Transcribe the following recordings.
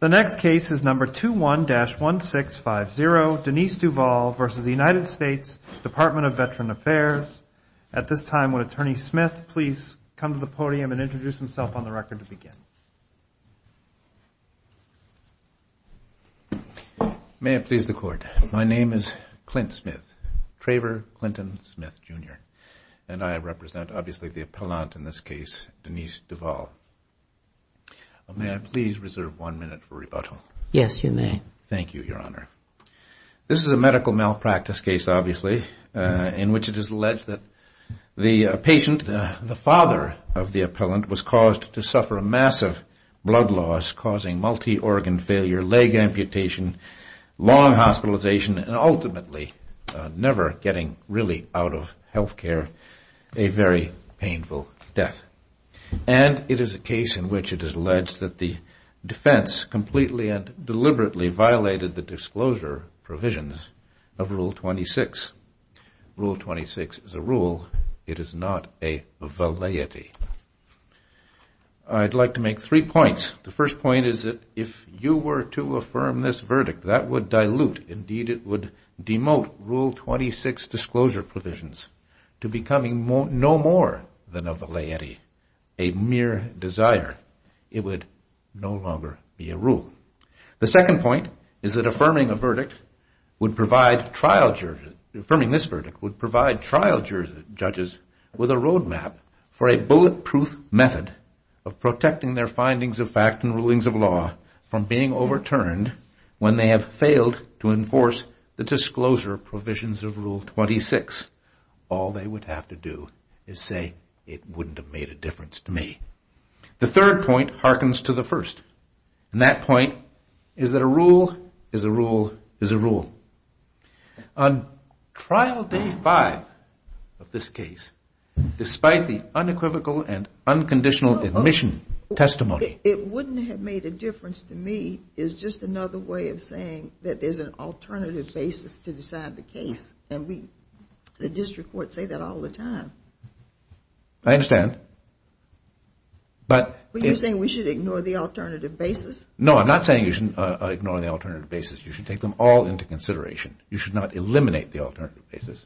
The next case is number 21-1650, Denise Duval v. United States Department of Veterans Affairs. At this time, would Attorney Smith please come to the podium and introduce himself on the record to begin? May it please the Court. My name is Clint Smith, Traver Clinton Smith, Jr., and I represent, obviously, the appellant in this case, Denise Duval. May I please reserve one minute for rebuttal? Yes, you may. Thank you, Your Honor. This is a medical malpractice case, obviously, in which it is alleged that the patient, the father of the appellant, was caused to suffer a massive blood loss, causing multi-organ failure, leg amputation, long hospitalization, and ultimately never getting really out of health care, a very painful death. And it is a case in which it is alleged that the defense completely and deliberately violated the disclosure provisions of Rule 26. Rule 26 is a rule. It is not a validity. I'd like to make three points. The first point is that if you were to affirm this verdict, that would dilute, indeed it would demote, Rule 26 disclosure provisions to becoming no more than a validity, a mere desire. It would no longer be a rule. The second point is that affirming a verdict would provide trial judges, affirming this verdict would provide trial judges with a roadmap for a bulletproof method of protecting their findings of fact and rulings of law from being overturned when they have failed to enforce the disclosure provisions of Rule 26. All they would have to do is say, it wouldn't have made a difference to me. The third point harkens to the first. And that point is that a rule is a rule is a rule. On trial day five of this case, despite the unequivocal and unconditional admission testimony. It wouldn't have made a difference to me is just another way of saying that there's an alternative basis to decide the case. And the district courts say that all the time. I understand. But you're saying we should ignore the alternative basis? No, I'm not saying you should ignore the alternative basis. You should take them all into consideration. You should not eliminate the alternative basis.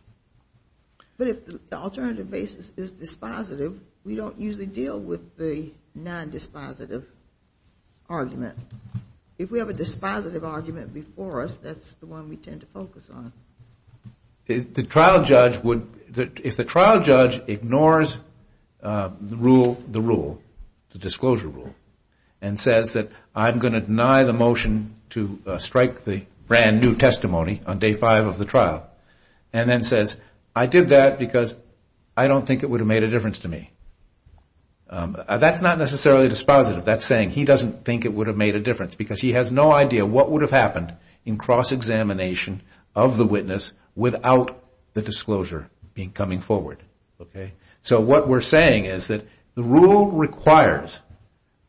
But if the alternative basis is dispositive, we don't usually deal with the nondispositive argument. If we have a dispositive argument before us, that's the one we tend to focus on. The trial judge would, if the trial judge ignores the rule, the rule, the disclosure rule, and says that I'm going to deny the motion to strike the brand new testimony on day five of the trial, and then says I did that because I don't think it would have made a difference to me. That's not necessarily dispositive. That's saying he doesn't think it would have made a difference because he has no idea what would have happened in cross-examination of the witness without the disclosure coming forward. So what we're saying is that the rule requires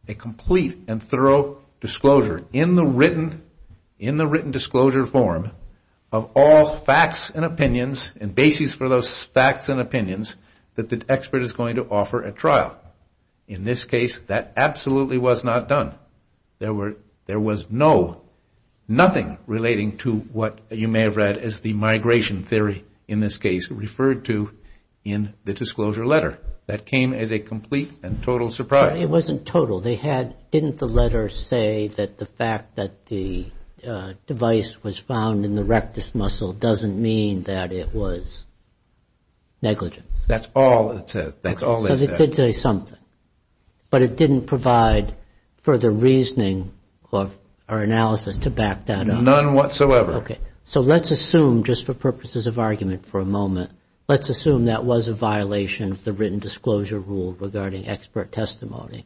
a complete and thorough disclosure in the written disclosure form of all facts and opinions and bases for those facts and opinions that the expert is going to offer at trial. In this case, that absolutely was not done. There was no, nothing relating to what you may have read as the migration theory in this case, referred to in the disclosure letter. That came as a complete and total surprise. It wasn't total. They had, didn't the letter say that the fact that the device was found in the rectus muscle doesn't mean that it was negligent? That's all it says. That's all they said. So they did say something. But it didn't provide further reasoning or analysis to back that up. None whatsoever. So let's assume, just for purposes of argument for a moment, let's assume that was a violation of the written disclosure rule regarding expert testimony.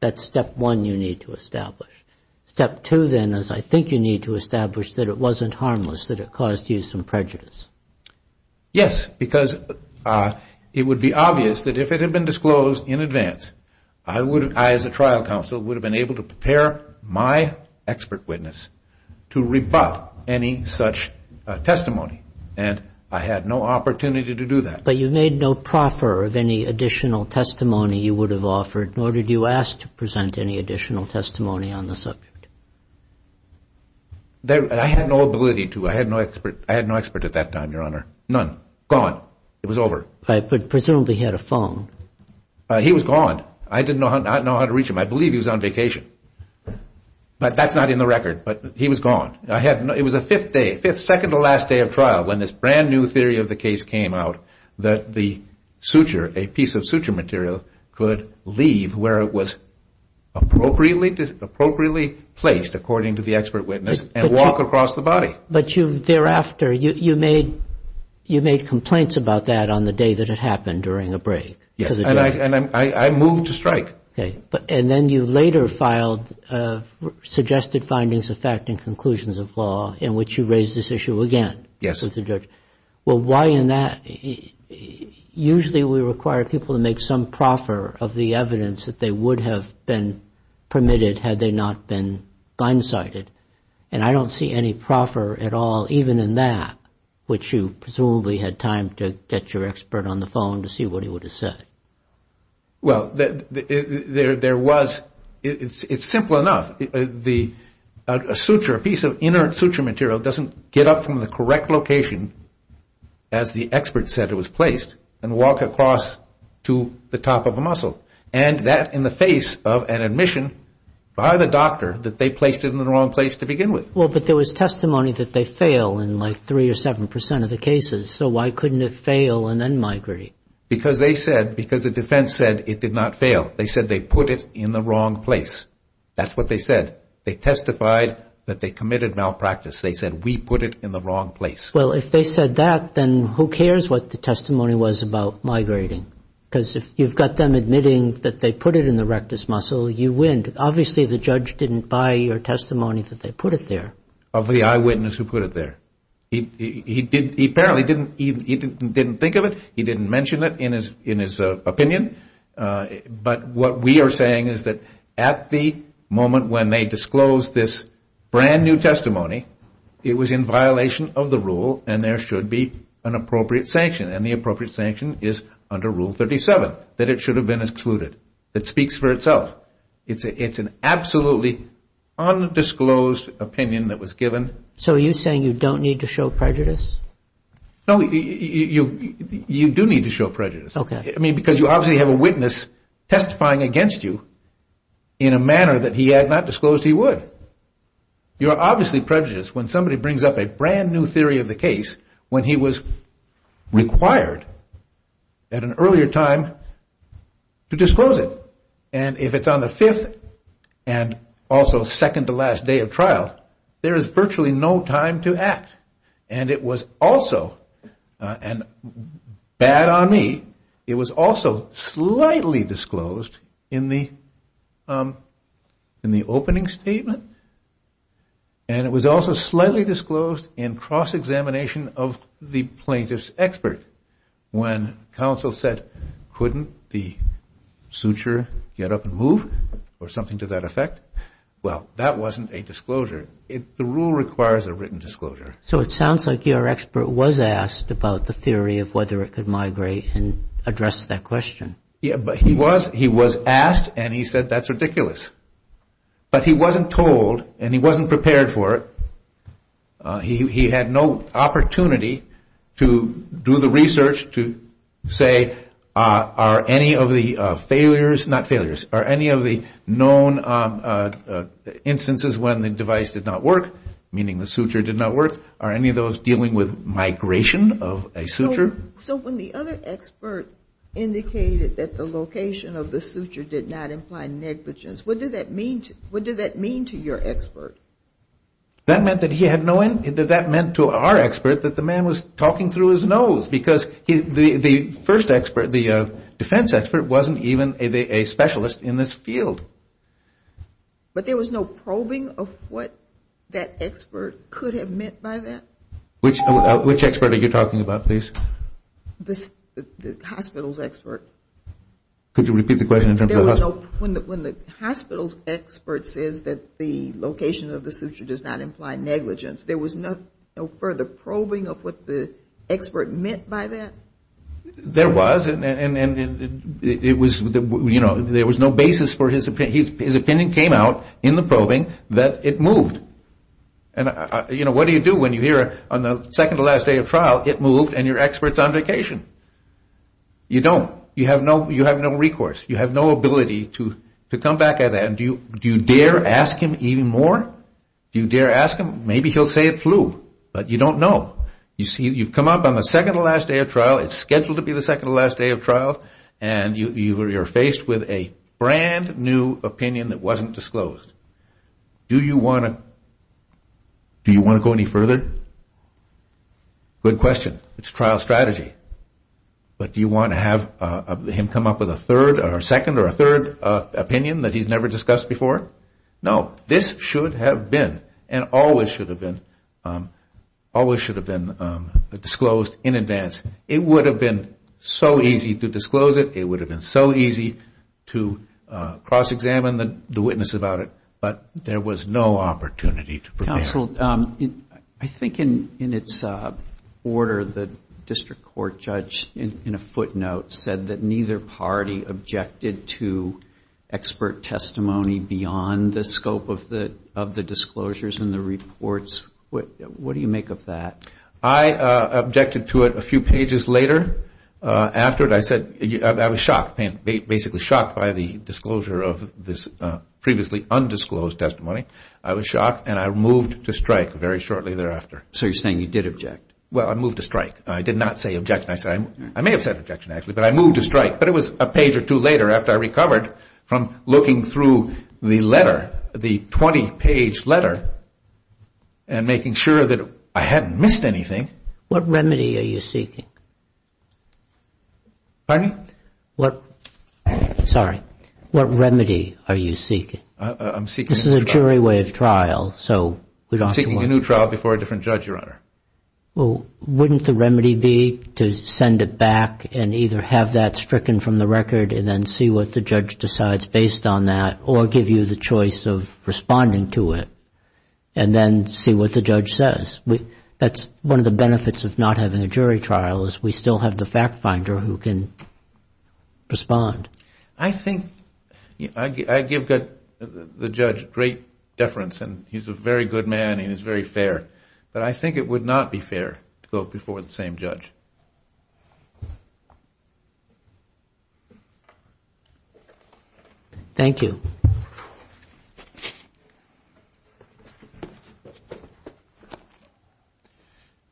That's step one you need to establish. Step two, then, is I think you need to establish that it wasn't harmless, that it caused you some prejudice. Yes, because it would be obvious that if it had been disclosed in advance, I would, as a trial counsel, would have been able to prepare my expert witness to rebut any such testimony. And I had no opportunity to do that. But you made no proffer of any additional testimony you would have offered, nor did you ask to present any additional testimony on the subject. I had no ability to. I had no expert at that time, Your Honor. None. Gone. It was over. But presumably he had a phone. He was gone. I didn't know how to reach him. I believe he was on vacation. But that's not in the record. But he was gone. It was a fifth day, second-to-last day of trial when this brand-new theory of the case came out that the suture, a piece of suture material, could leave where it was appropriately placed, according to the expert witness, and walk across the body. But thereafter, you made complaints about that on the day that it happened, during a break. Yes, and I moved to strike. And then you later filed suggested findings of fact and conclusions of law, in which you raised this issue again with the judge. Yes. Well, why in that? Usually we require people to make some proffer of the evidence that they would have been permitted had they not been blindsided. And I don't see any proffer at all, even in that, which you presumably had time to get your expert on the phone to see what he would have said. Well, there was – it's simple enough. A suture, a piece of inner suture material, doesn't get up from the correct location, as the expert said it was placed, and walk across to the top of a muscle. And that in the face of an admission by the doctor that they placed it in the wrong place to begin with. Well, but there was testimony that they fail in like three or seven percent of the cases. So why couldn't it fail and then migrate? Because they said – because the defense said it did not fail. They said they put it in the wrong place. That's what they said. They testified that they committed malpractice. They said we put it in the wrong place. Well, if they said that, then who cares what the testimony was about migrating? Because if you've got them admitting that they put it in the rectus muscle, you win. Obviously, the judge didn't buy your testimony that they put it there. Of the eyewitness who put it there. He apparently didn't think of it. He didn't mention it in his opinion. But what we are saying is that at the moment when they disclosed this brand-new testimony, it was in violation of the rule, and there should be an appropriate sanction. And the appropriate sanction is under Rule 37, that it should have been excluded. It speaks for itself. It's an absolutely undisclosed opinion that was given. So are you saying you don't need to show prejudice? No, you do need to show prejudice. Okay. I mean, because you obviously have a witness testifying against you in a manner that he had not disclosed he would. You are obviously prejudiced when somebody brings up a brand-new theory of the case when he was required at an earlier time to disclose it. And if it's on the fifth and also second to last day of trial, there is virtually no time to act. And it was also, and bad on me, it was also slightly disclosed in the opening statement, and it was also slightly disclosed in cross-examination of the plaintiff's expert when counsel said, couldn't the suture get up and move or something to that effect? Well, that wasn't a disclosure. The rule requires a written disclosure. So it sounds like your expert was asked about the theory of whether it could migrate and address that question. Yeah, but he was asked, and he said that's ridiculous. But he wasn't told, and he wasn't prepared for it. He had no opportunity to do the research to say, are any of the failures, not failures, are any of the known instances when the device did not work, meaning the suture did not work, are any of those dealing with migration of a suture? So when the other expert indicated that the location of the suture did not imply negligence, what did that mean to your expert? That meant to our expert that the man was talking through his nose, because the first expert, the defense expert, wasn't even a specialist in this field. But there was no probing of what that expert could have meant by that? Which expert are you talking about, please? The hospital's expert. Could you repeat the question in terms of the hospital? When the hospital's expert says that the location of the suture does not imply negligence, there was no further probing of what the expert meant by that? There was, and it was, you know, there was no basis for his opinion. His opinion came out in the probing that it moved. And, you know, what do you do when you hear on the second to last day of trial, it moved, and your expert's on vacation? You don't. You have no recourse. You have no ability to come back at him. Do you dare ask him even more? Do you dare ask him? Maybe he'll say it flew, but you don't know. You've come up on the second to last day of trial. It's scheduled to be the second to last day of trial, and you're faced with a brand new opinion that wasn't disclosed. Do you want to go any further? Good question. It's trial strategy. But do you want to have him come up with a second or a third opinion that he's never discussed before? No. This should have been and always should have been disclosed in advance. It would have been so easy to disclose it. It would have been so easy to cross-examine the witness about it. But there was no opportunity to prepare. Counsel, I think in its order the district court judge, in a footnote, said that neither party objected to expert testimony beyond the scope of the disclosures and the reports. What do you make of that? I objected to it a few pages later. Afterward I said I was shocked, basically shocked by the disclosure of this previously undisclosed testimony. I was shocked and I moved to strike very shortly thereafter. So you're saying you did object? Well, I moved to strike. I did not say objection. I may have said objection actually, but I moved to strike. But it was a page or two later after I recovered from looking through the letter, the 20-page letter, and making sure that I hadn't missed anything. What remedy are you seeking? Pardon me? Sorry. What remedy are you seeking? This is a jury way of trial. I'm seeking a new trial before a different judge, Your Honor. Well, wouldn't the remedy be to send it back and either have that stricken from the record and then see what the judge decides based on that or give you the choice of responding to it and then see what the judge says? That's one of the benefits of not having a jury trial is we still have the fact finder who can respond. I think I give the judge great deference and he's a very good man and he's very fair, but I think it would not be fair to go before the same judge. Thank you.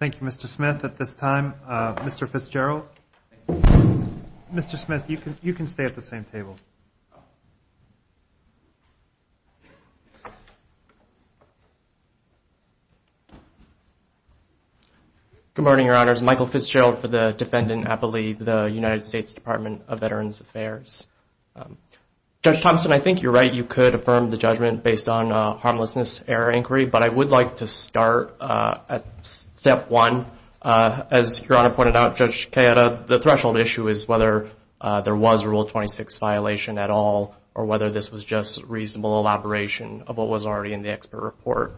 Thank you, Mr. Smith. At this time, Mr. Fitzgerald. Mr. Smith, you can stay at the same table. Good morning, Your Honors. Michael Fitzgerald for the defendant, I believe, the United States Department of Veterans Affairs. Judge Thompson, I think you're right. You could affirm the judgment based on harmlessness error inquiry, but I would like to start at step one. As Your Honor pointed out, Judge Cayetta, the threshold issue is whether there was a Rule 26 violation at all or whether this was just reasonable elaboration of what was already in the expert report.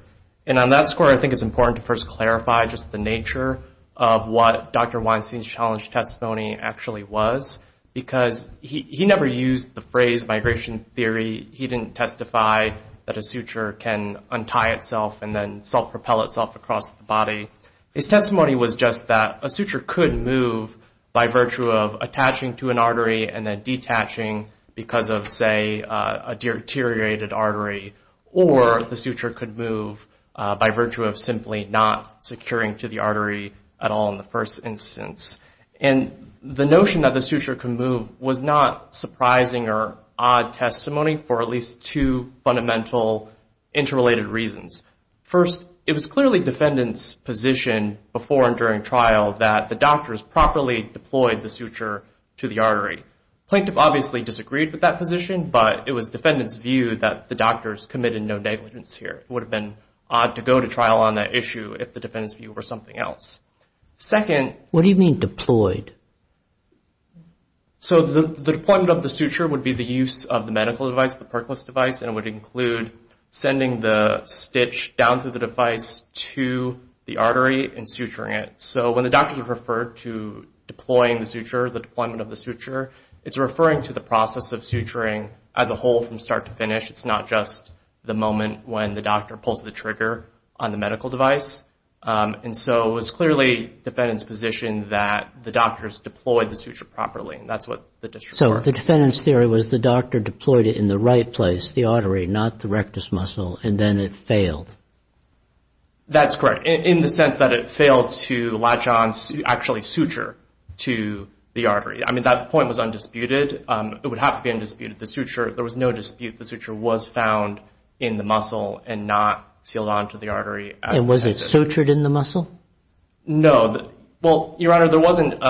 And on that score, I think it's important to first clarify just the nature of what Dr. Weinstein's challenge testimony actually was because he never used the phrase migration theory. He didn't testify that a suture can untie itself and then self-propel itself across the body. His testimony was just that a suture could move by virtue of attaching to an artery and then detaching because of, say, a deteriorated artery, or the suture could move by virtue of simply not securing to the artery at all in the first instance. And the notion that the suture could move was not surprising or odd testimony for at least two fundamental interrelated reasons. First, it was clearly defendant's position before and during trial that the doctors properly deployed the suture to the artery. Plaintiff obviously disagreed with that position, but it was defendant's view that the doctors committed no negligence here. It would have been odd to go to trial on that issue if the defendant's view were something else. Second... What do you mean deployed? So the deployment of the suture would be the use of the medical device, and it would include sending the stitch down through the device to the artery and suturing it. So when the doctors referred to deploying the suture, the deployment of the suture, it's referring to the process of suturing as a whole from start to finish. It's not just the moment when the doctor pulls the trigger on the medical device. And so it was clearly defendant's position that the doctors deployed the suture properly, and that's what the district referred to. So the defendant's theory was the doctor deployed it in the right place, the artery, not the rectus muscle, and then it failed. That's correct, in the sense that it failed to latch on, actually suture, to the artery. I mean, that point was undisputed. It would have to be undisputed. The suture, there was no dispute the suture was found in the muscle and not sealed onto the artery. And was it sutured in the muscle? No. Well, Your Honor, there wasn't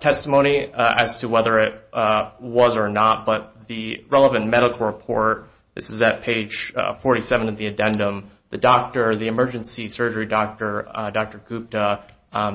testimony as to whether it was or not, but the relevant medical report, this is at page 47 of the addendum, the emergency surgery doctor, Dr. Gupta,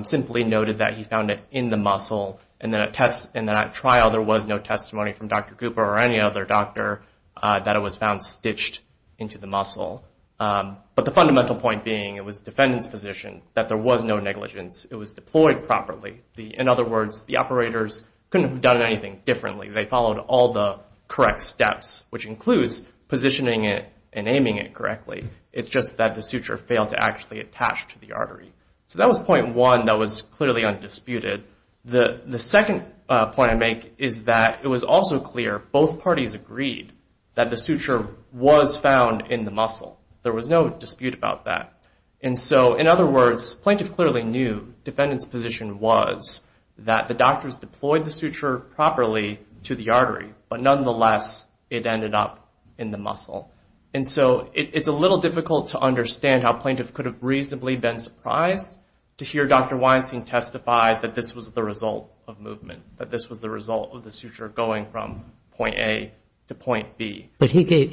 simply noted that he found it in the muscle. And then at trial there was no testimony from Dr. Gupta or any other doctor that it was found stitched into the muscle. But the fundamental point being it was defendant's position that there was no negligence. It was deployed properly. In other words, the operators couldn't have done anything differently. They followed all the correct steps, which includes positioning it and aiming it correctly. It's just that the suture failed to actually attach to the artery. So that was point one that was clearly undisputed. The second point I make is that it was also clear, both parties agreed, that the suture was found in the muscle. There was no dispute about that. And so, in other words, plaintiff clearly knew defendant's position was that the doctors deployed the suture properly to the artery, but nonetheless it ended up in the muscle. And so it's a little difficult to understand how plaintiff could have reasonably been surprised to hear Dr. Weinstein testify that this was the result of movement, that this was the result of the suture going from point A to point B. But he gave,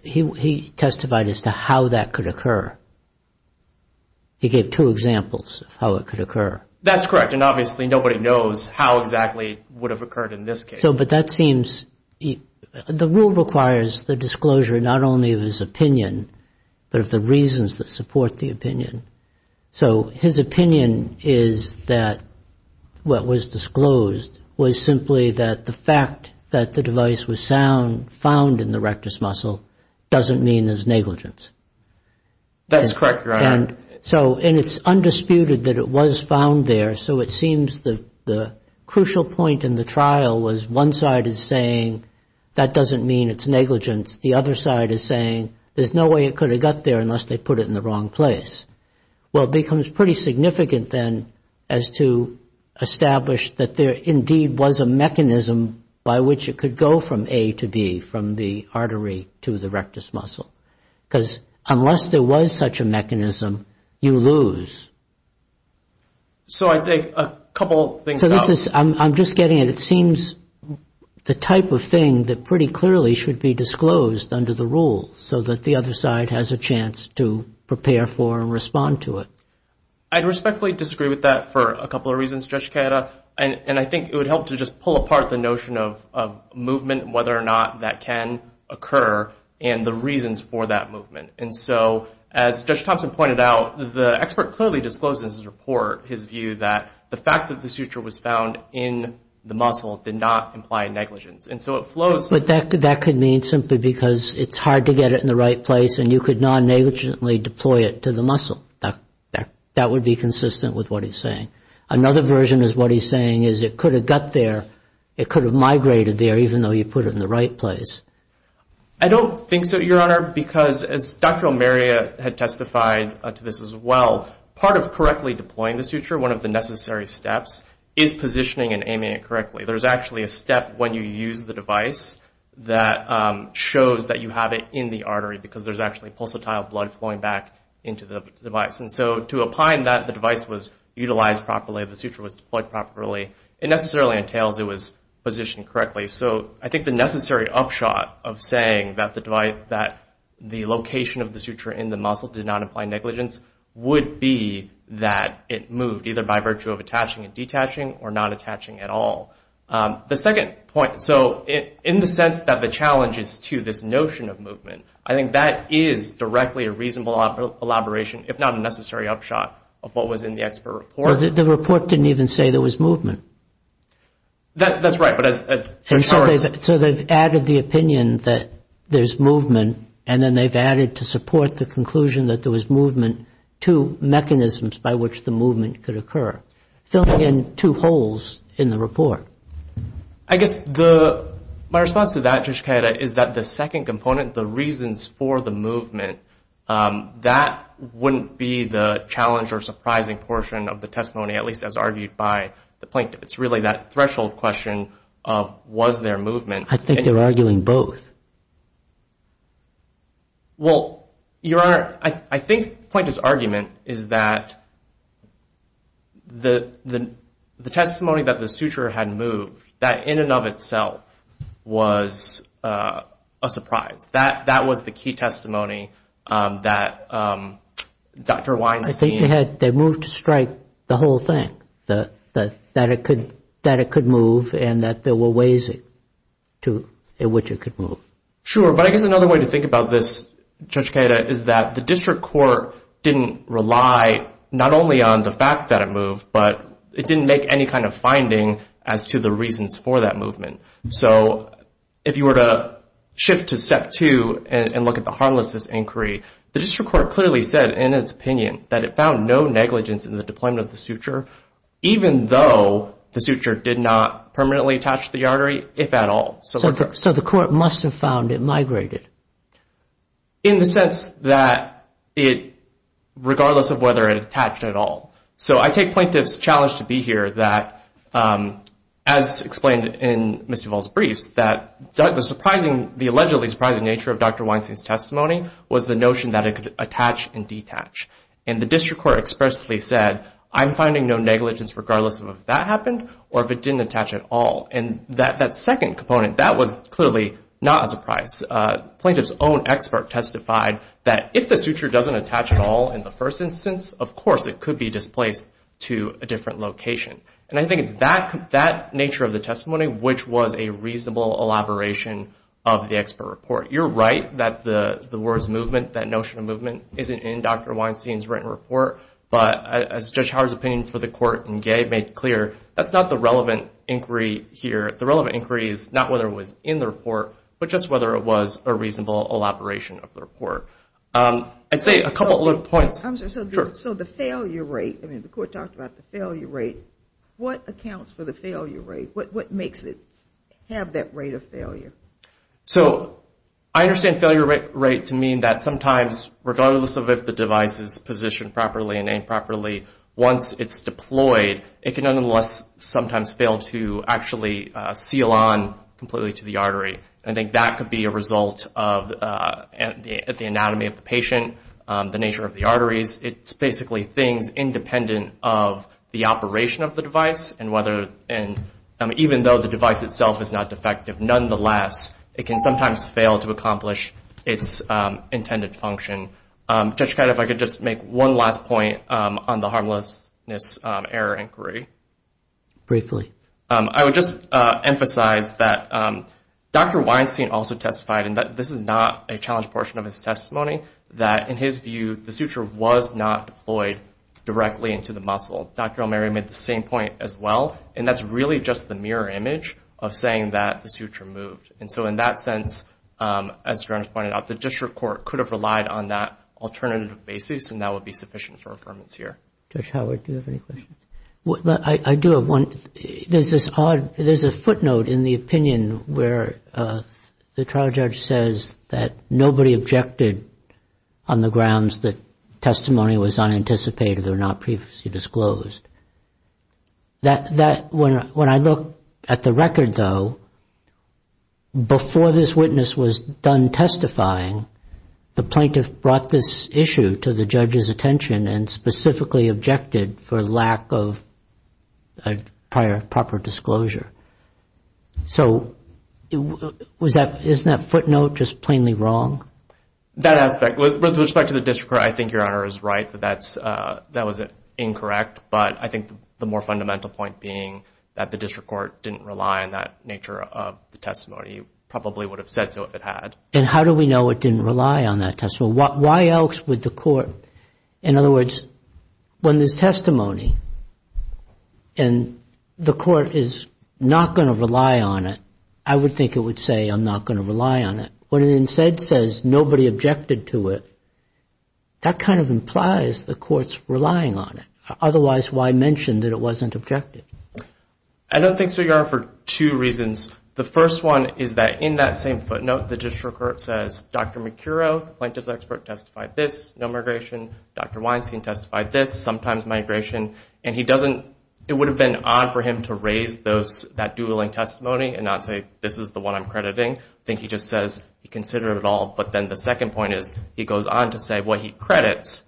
he testified as to how that could occur. He gave two examples of how it could occur. That's correct. And obviously nobody knows how exactly it would have occurred in this case. But that seems, the rule requires the disclosure not only of his opinion, but of the reasons that support the opinion. So his opinion is that what was disclosed was simply that the fact that the device was found in the rectus muscle doesn't mean there's negligence. That's correct, Your Honor. And it's undisputed that it was found there, so it seems the crucial point in the trial was one side is saying that doesn't mean it's negligence. The other side is saying there's no way it could have got there unless they put it in the wrong place. Well, it becomes pretty significant then as to establish that there indeed was a mechanism by which it could go from A to B, from the artery to the rectus muscle. Because unless there was such a mechanism, you lose. So I'd say a couple things. I'm just getting it. It seems the type of thing that pretty clearly should be disclosed under the rule so that the other side has a chance to prepare for and respond to it. I'd respectfully disagree with that for a couple of reasons, Judge Cata, and I think it would help to just pull apart the notion of movement, whether or not that can occur, and the reasons for that movement. And so as Judge Thompson pointed out, the expert clearly disclosed in his report his view that the fact that the suture was found in the muscle did not imply negligence. But that could mean simply because it's hard to get it in the right place and you could non-negligently deploy it to the muscle. That would be consistent with what he's saying. Another version is what he's saying is it could have got there, it could have migrated there even though you put it in the right place. I don't think so, Your Honor, because as Dr. O'Meara had testified to this as well, part of correctly deploying the suture, one of the necessary steps, is positioning and aiming it correctly. There's actually a step when you use the device that shows that you have it in the artery because there's actually pulsatile blood flowing back into the device. And so to opine that the device was utilized properly, the suture was deployed properly, it necessarily entails it was positioned correctly. So I think the necessary upshot of saying that the location of the suture in the muscle did not imply negligence would be that it moved, either by virtue of attaching and detaching or not attaching at all. The second point, so in the sense that the challenge is to this notion of movement, I think that is directly a reasonable elaboration, if not a necessary upshot of what was in the expert report. The report didn't even say there was movement. That's right. So they've added the opinion that there's movement and then they've added to support the conclusion that there was movement and then two mechanisms by which the movement could occur, filling in two holes in the report. I guess my response to that, Judge Kayeda, is that the second component, the reasons for the movement, that wouldn't be the challenge or surprising portion of the testimony, at least as argued by the plaintiff. It's really that threshold question of was there movement. I think they're arguing both. Well, Your Honor, I think the plaintiff's argument is that the testimony that the suture had moved, that in and of itself was a surprise. That was the key testimony that Dr. Weinstein... I think they moved to strike the whole thing, that it could move and that there were ways in which it could move. Sure, but I guess another way to think about this, Judge Kayeda, is that the district court didn't rely not only on the fact that it moved, but it didn't make any kind of finding as to the reasons for that movement. So if you were to shift to step two and look at the harmlessness inquiry, the district court clearly said in its opinion that it found no negligence in the deployment of the suture, even though the suture did not permanently attach to the artery, if at all. So the court must have found it migrated. In the sense that it, regardless of whether it attached at all. So I take plaintiff's challenge to be here that, as explained in Ms. Duvall's briefs, that the allegedly surprising nature of Dr. Weinstein's testimony was the notion that it could attach and detach. And the district court expressly said, I'm finding no negligence regardless of if that happened or if it didn't attach at all. And that second component, that was clearly not a surprise. Plaintiff's own expert testified that if the suture doesn't attach at all in the first instance, of course it could be displaced to a different location. And I think it's that nature of the testimony which was a reasonable elaboration of the expert report. You're right that the words movement, that notion of movement, isn't in Dr. Weinstein's written report. But as Judge Howard's opinion for the court in Gay made clear, that's not the relevant inquiry here. The relevant inquiry is not whether it was in the report, but just whether it was a reasonable elaboration of the report. I'd say a couple of points. So the failure rate, the court talked about the failure rate. What accounts for the failure rate? What makes it have that rate of failure? So I understand failure rate to mean that sometimes, regardless of if the device is positioned properly and aimed properly, once it's deployed, it can nonetheless sometimes fail to actually seal on completely to the artery. I think that could be a result of the anatomy of the patient, the nature of the arteries. It's basically things independent of the operation of the device, and even though the device itself is not defective, nonetheless it can sometimes fail to accomplish its intended function. Judge Katta, if I could just make one last point on the harmlessness error inquiry. Briefly. I would just emphasize that Dr. Weinstein also testified, and this is not a challenge portion of his testimony, that in his view the suture was not deployed directly into the muscle. Dr. O'Meary made the same point as well, and that's really just the mirror image of saying that the suture moved. And so in that sense, as Jaron's pointed out, the district court could have relied on that alternative basis and that would be sufficient for affirmance here. Judge Howard, do you have any questions? I do. There's a footnote in the opinion where the trial judge says that nobody objected on the grounds that testimony was unanticipated or not previously disclosed. When I look at the record, though, before this witness was done testifying, the plaintiff brought this issue to the judge's attention and specifically objected for lack of proper disclosure. So isn't that footnote just plainly wrong? That aspect. With respect to the district court, I think Your Honor is right that that was incorrect, but I think the more fundamental point being that the district court didn't rely on that nature of the testimony. It probably would have said so if it had. And how do we know it didn't rely on that testimony? Why else would the court, in other words, when there's testimony and the court is not going to rely on it, I would think it would say I'm not going to rely on it. When it instead says nobody objected to it, that kind of implies the court's relying on it. Otherwise, why mention that it wasn't objected? I don't think so, Your Honor, for two reasons. The first one is that in that same footnote, the district court says, Dr. Mercuro, plaintiff's expert, testified this, no migration. Dr. Weinstein testified this, sometimes migration. And it would have been odd for him to raise that dueling testimony and not say this is the one I'm crediting. I think he just says he considered it all. But then the second point is he goes on to say what he credits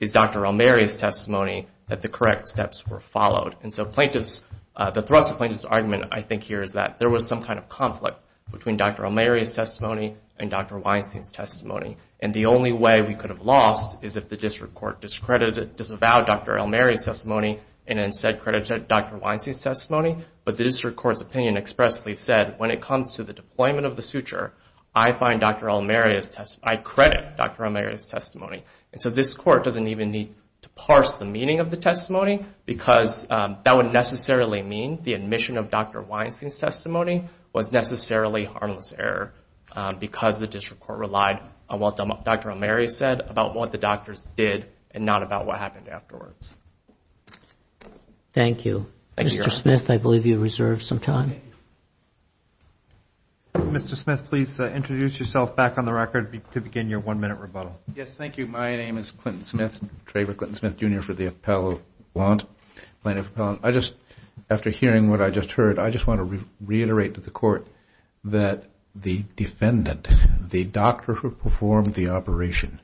is Dr. Elmeri's testimony that the correct steps were followed. And so the thrust of plaintiff's argument, I think, here is that there was some kind of conflict between Dr. Elmeri's testimony and Dr. Weinstein's testimony. And the only way we could have lost is if the district court disavowed Dr. Elmeri's testimony and instead credited Dr. Weinstein's testimony. But the district court's opinion expressly said, when it comes to the deployment of the suture, I find Dr. Elmeri's testimony, I credit Dr. Elmeri's testimony. And so this court doesn't even need to parse the meaning of the testimony because that would necessarily mean the admission of Dr. Weinstein's testimony was necessarily harmless error because the district court relied on what Dr. Elmeri said about what the doctors did and not about what happened afterwards. Thank you. Mr. Smith, I believe you reserved some time. Mr. Smith, please introduce yourself back on the record to begin your one-minute rebuttal. Yes, thank you. My name is Clinton Smith, Traver Clinton Smith, Jr. for the Appellant. I just, after hearing what I just heard, I just want to reiterate to the court that the defendant, the doctor who performed the operation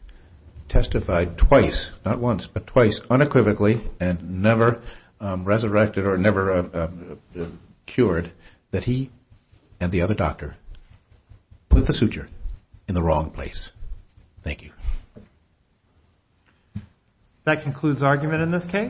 testified twice, not once, but twice unequivocally and never resurrected or never cured that he and the other doctor put the suture in the wrong place. Thank you. That concludes argument in this case.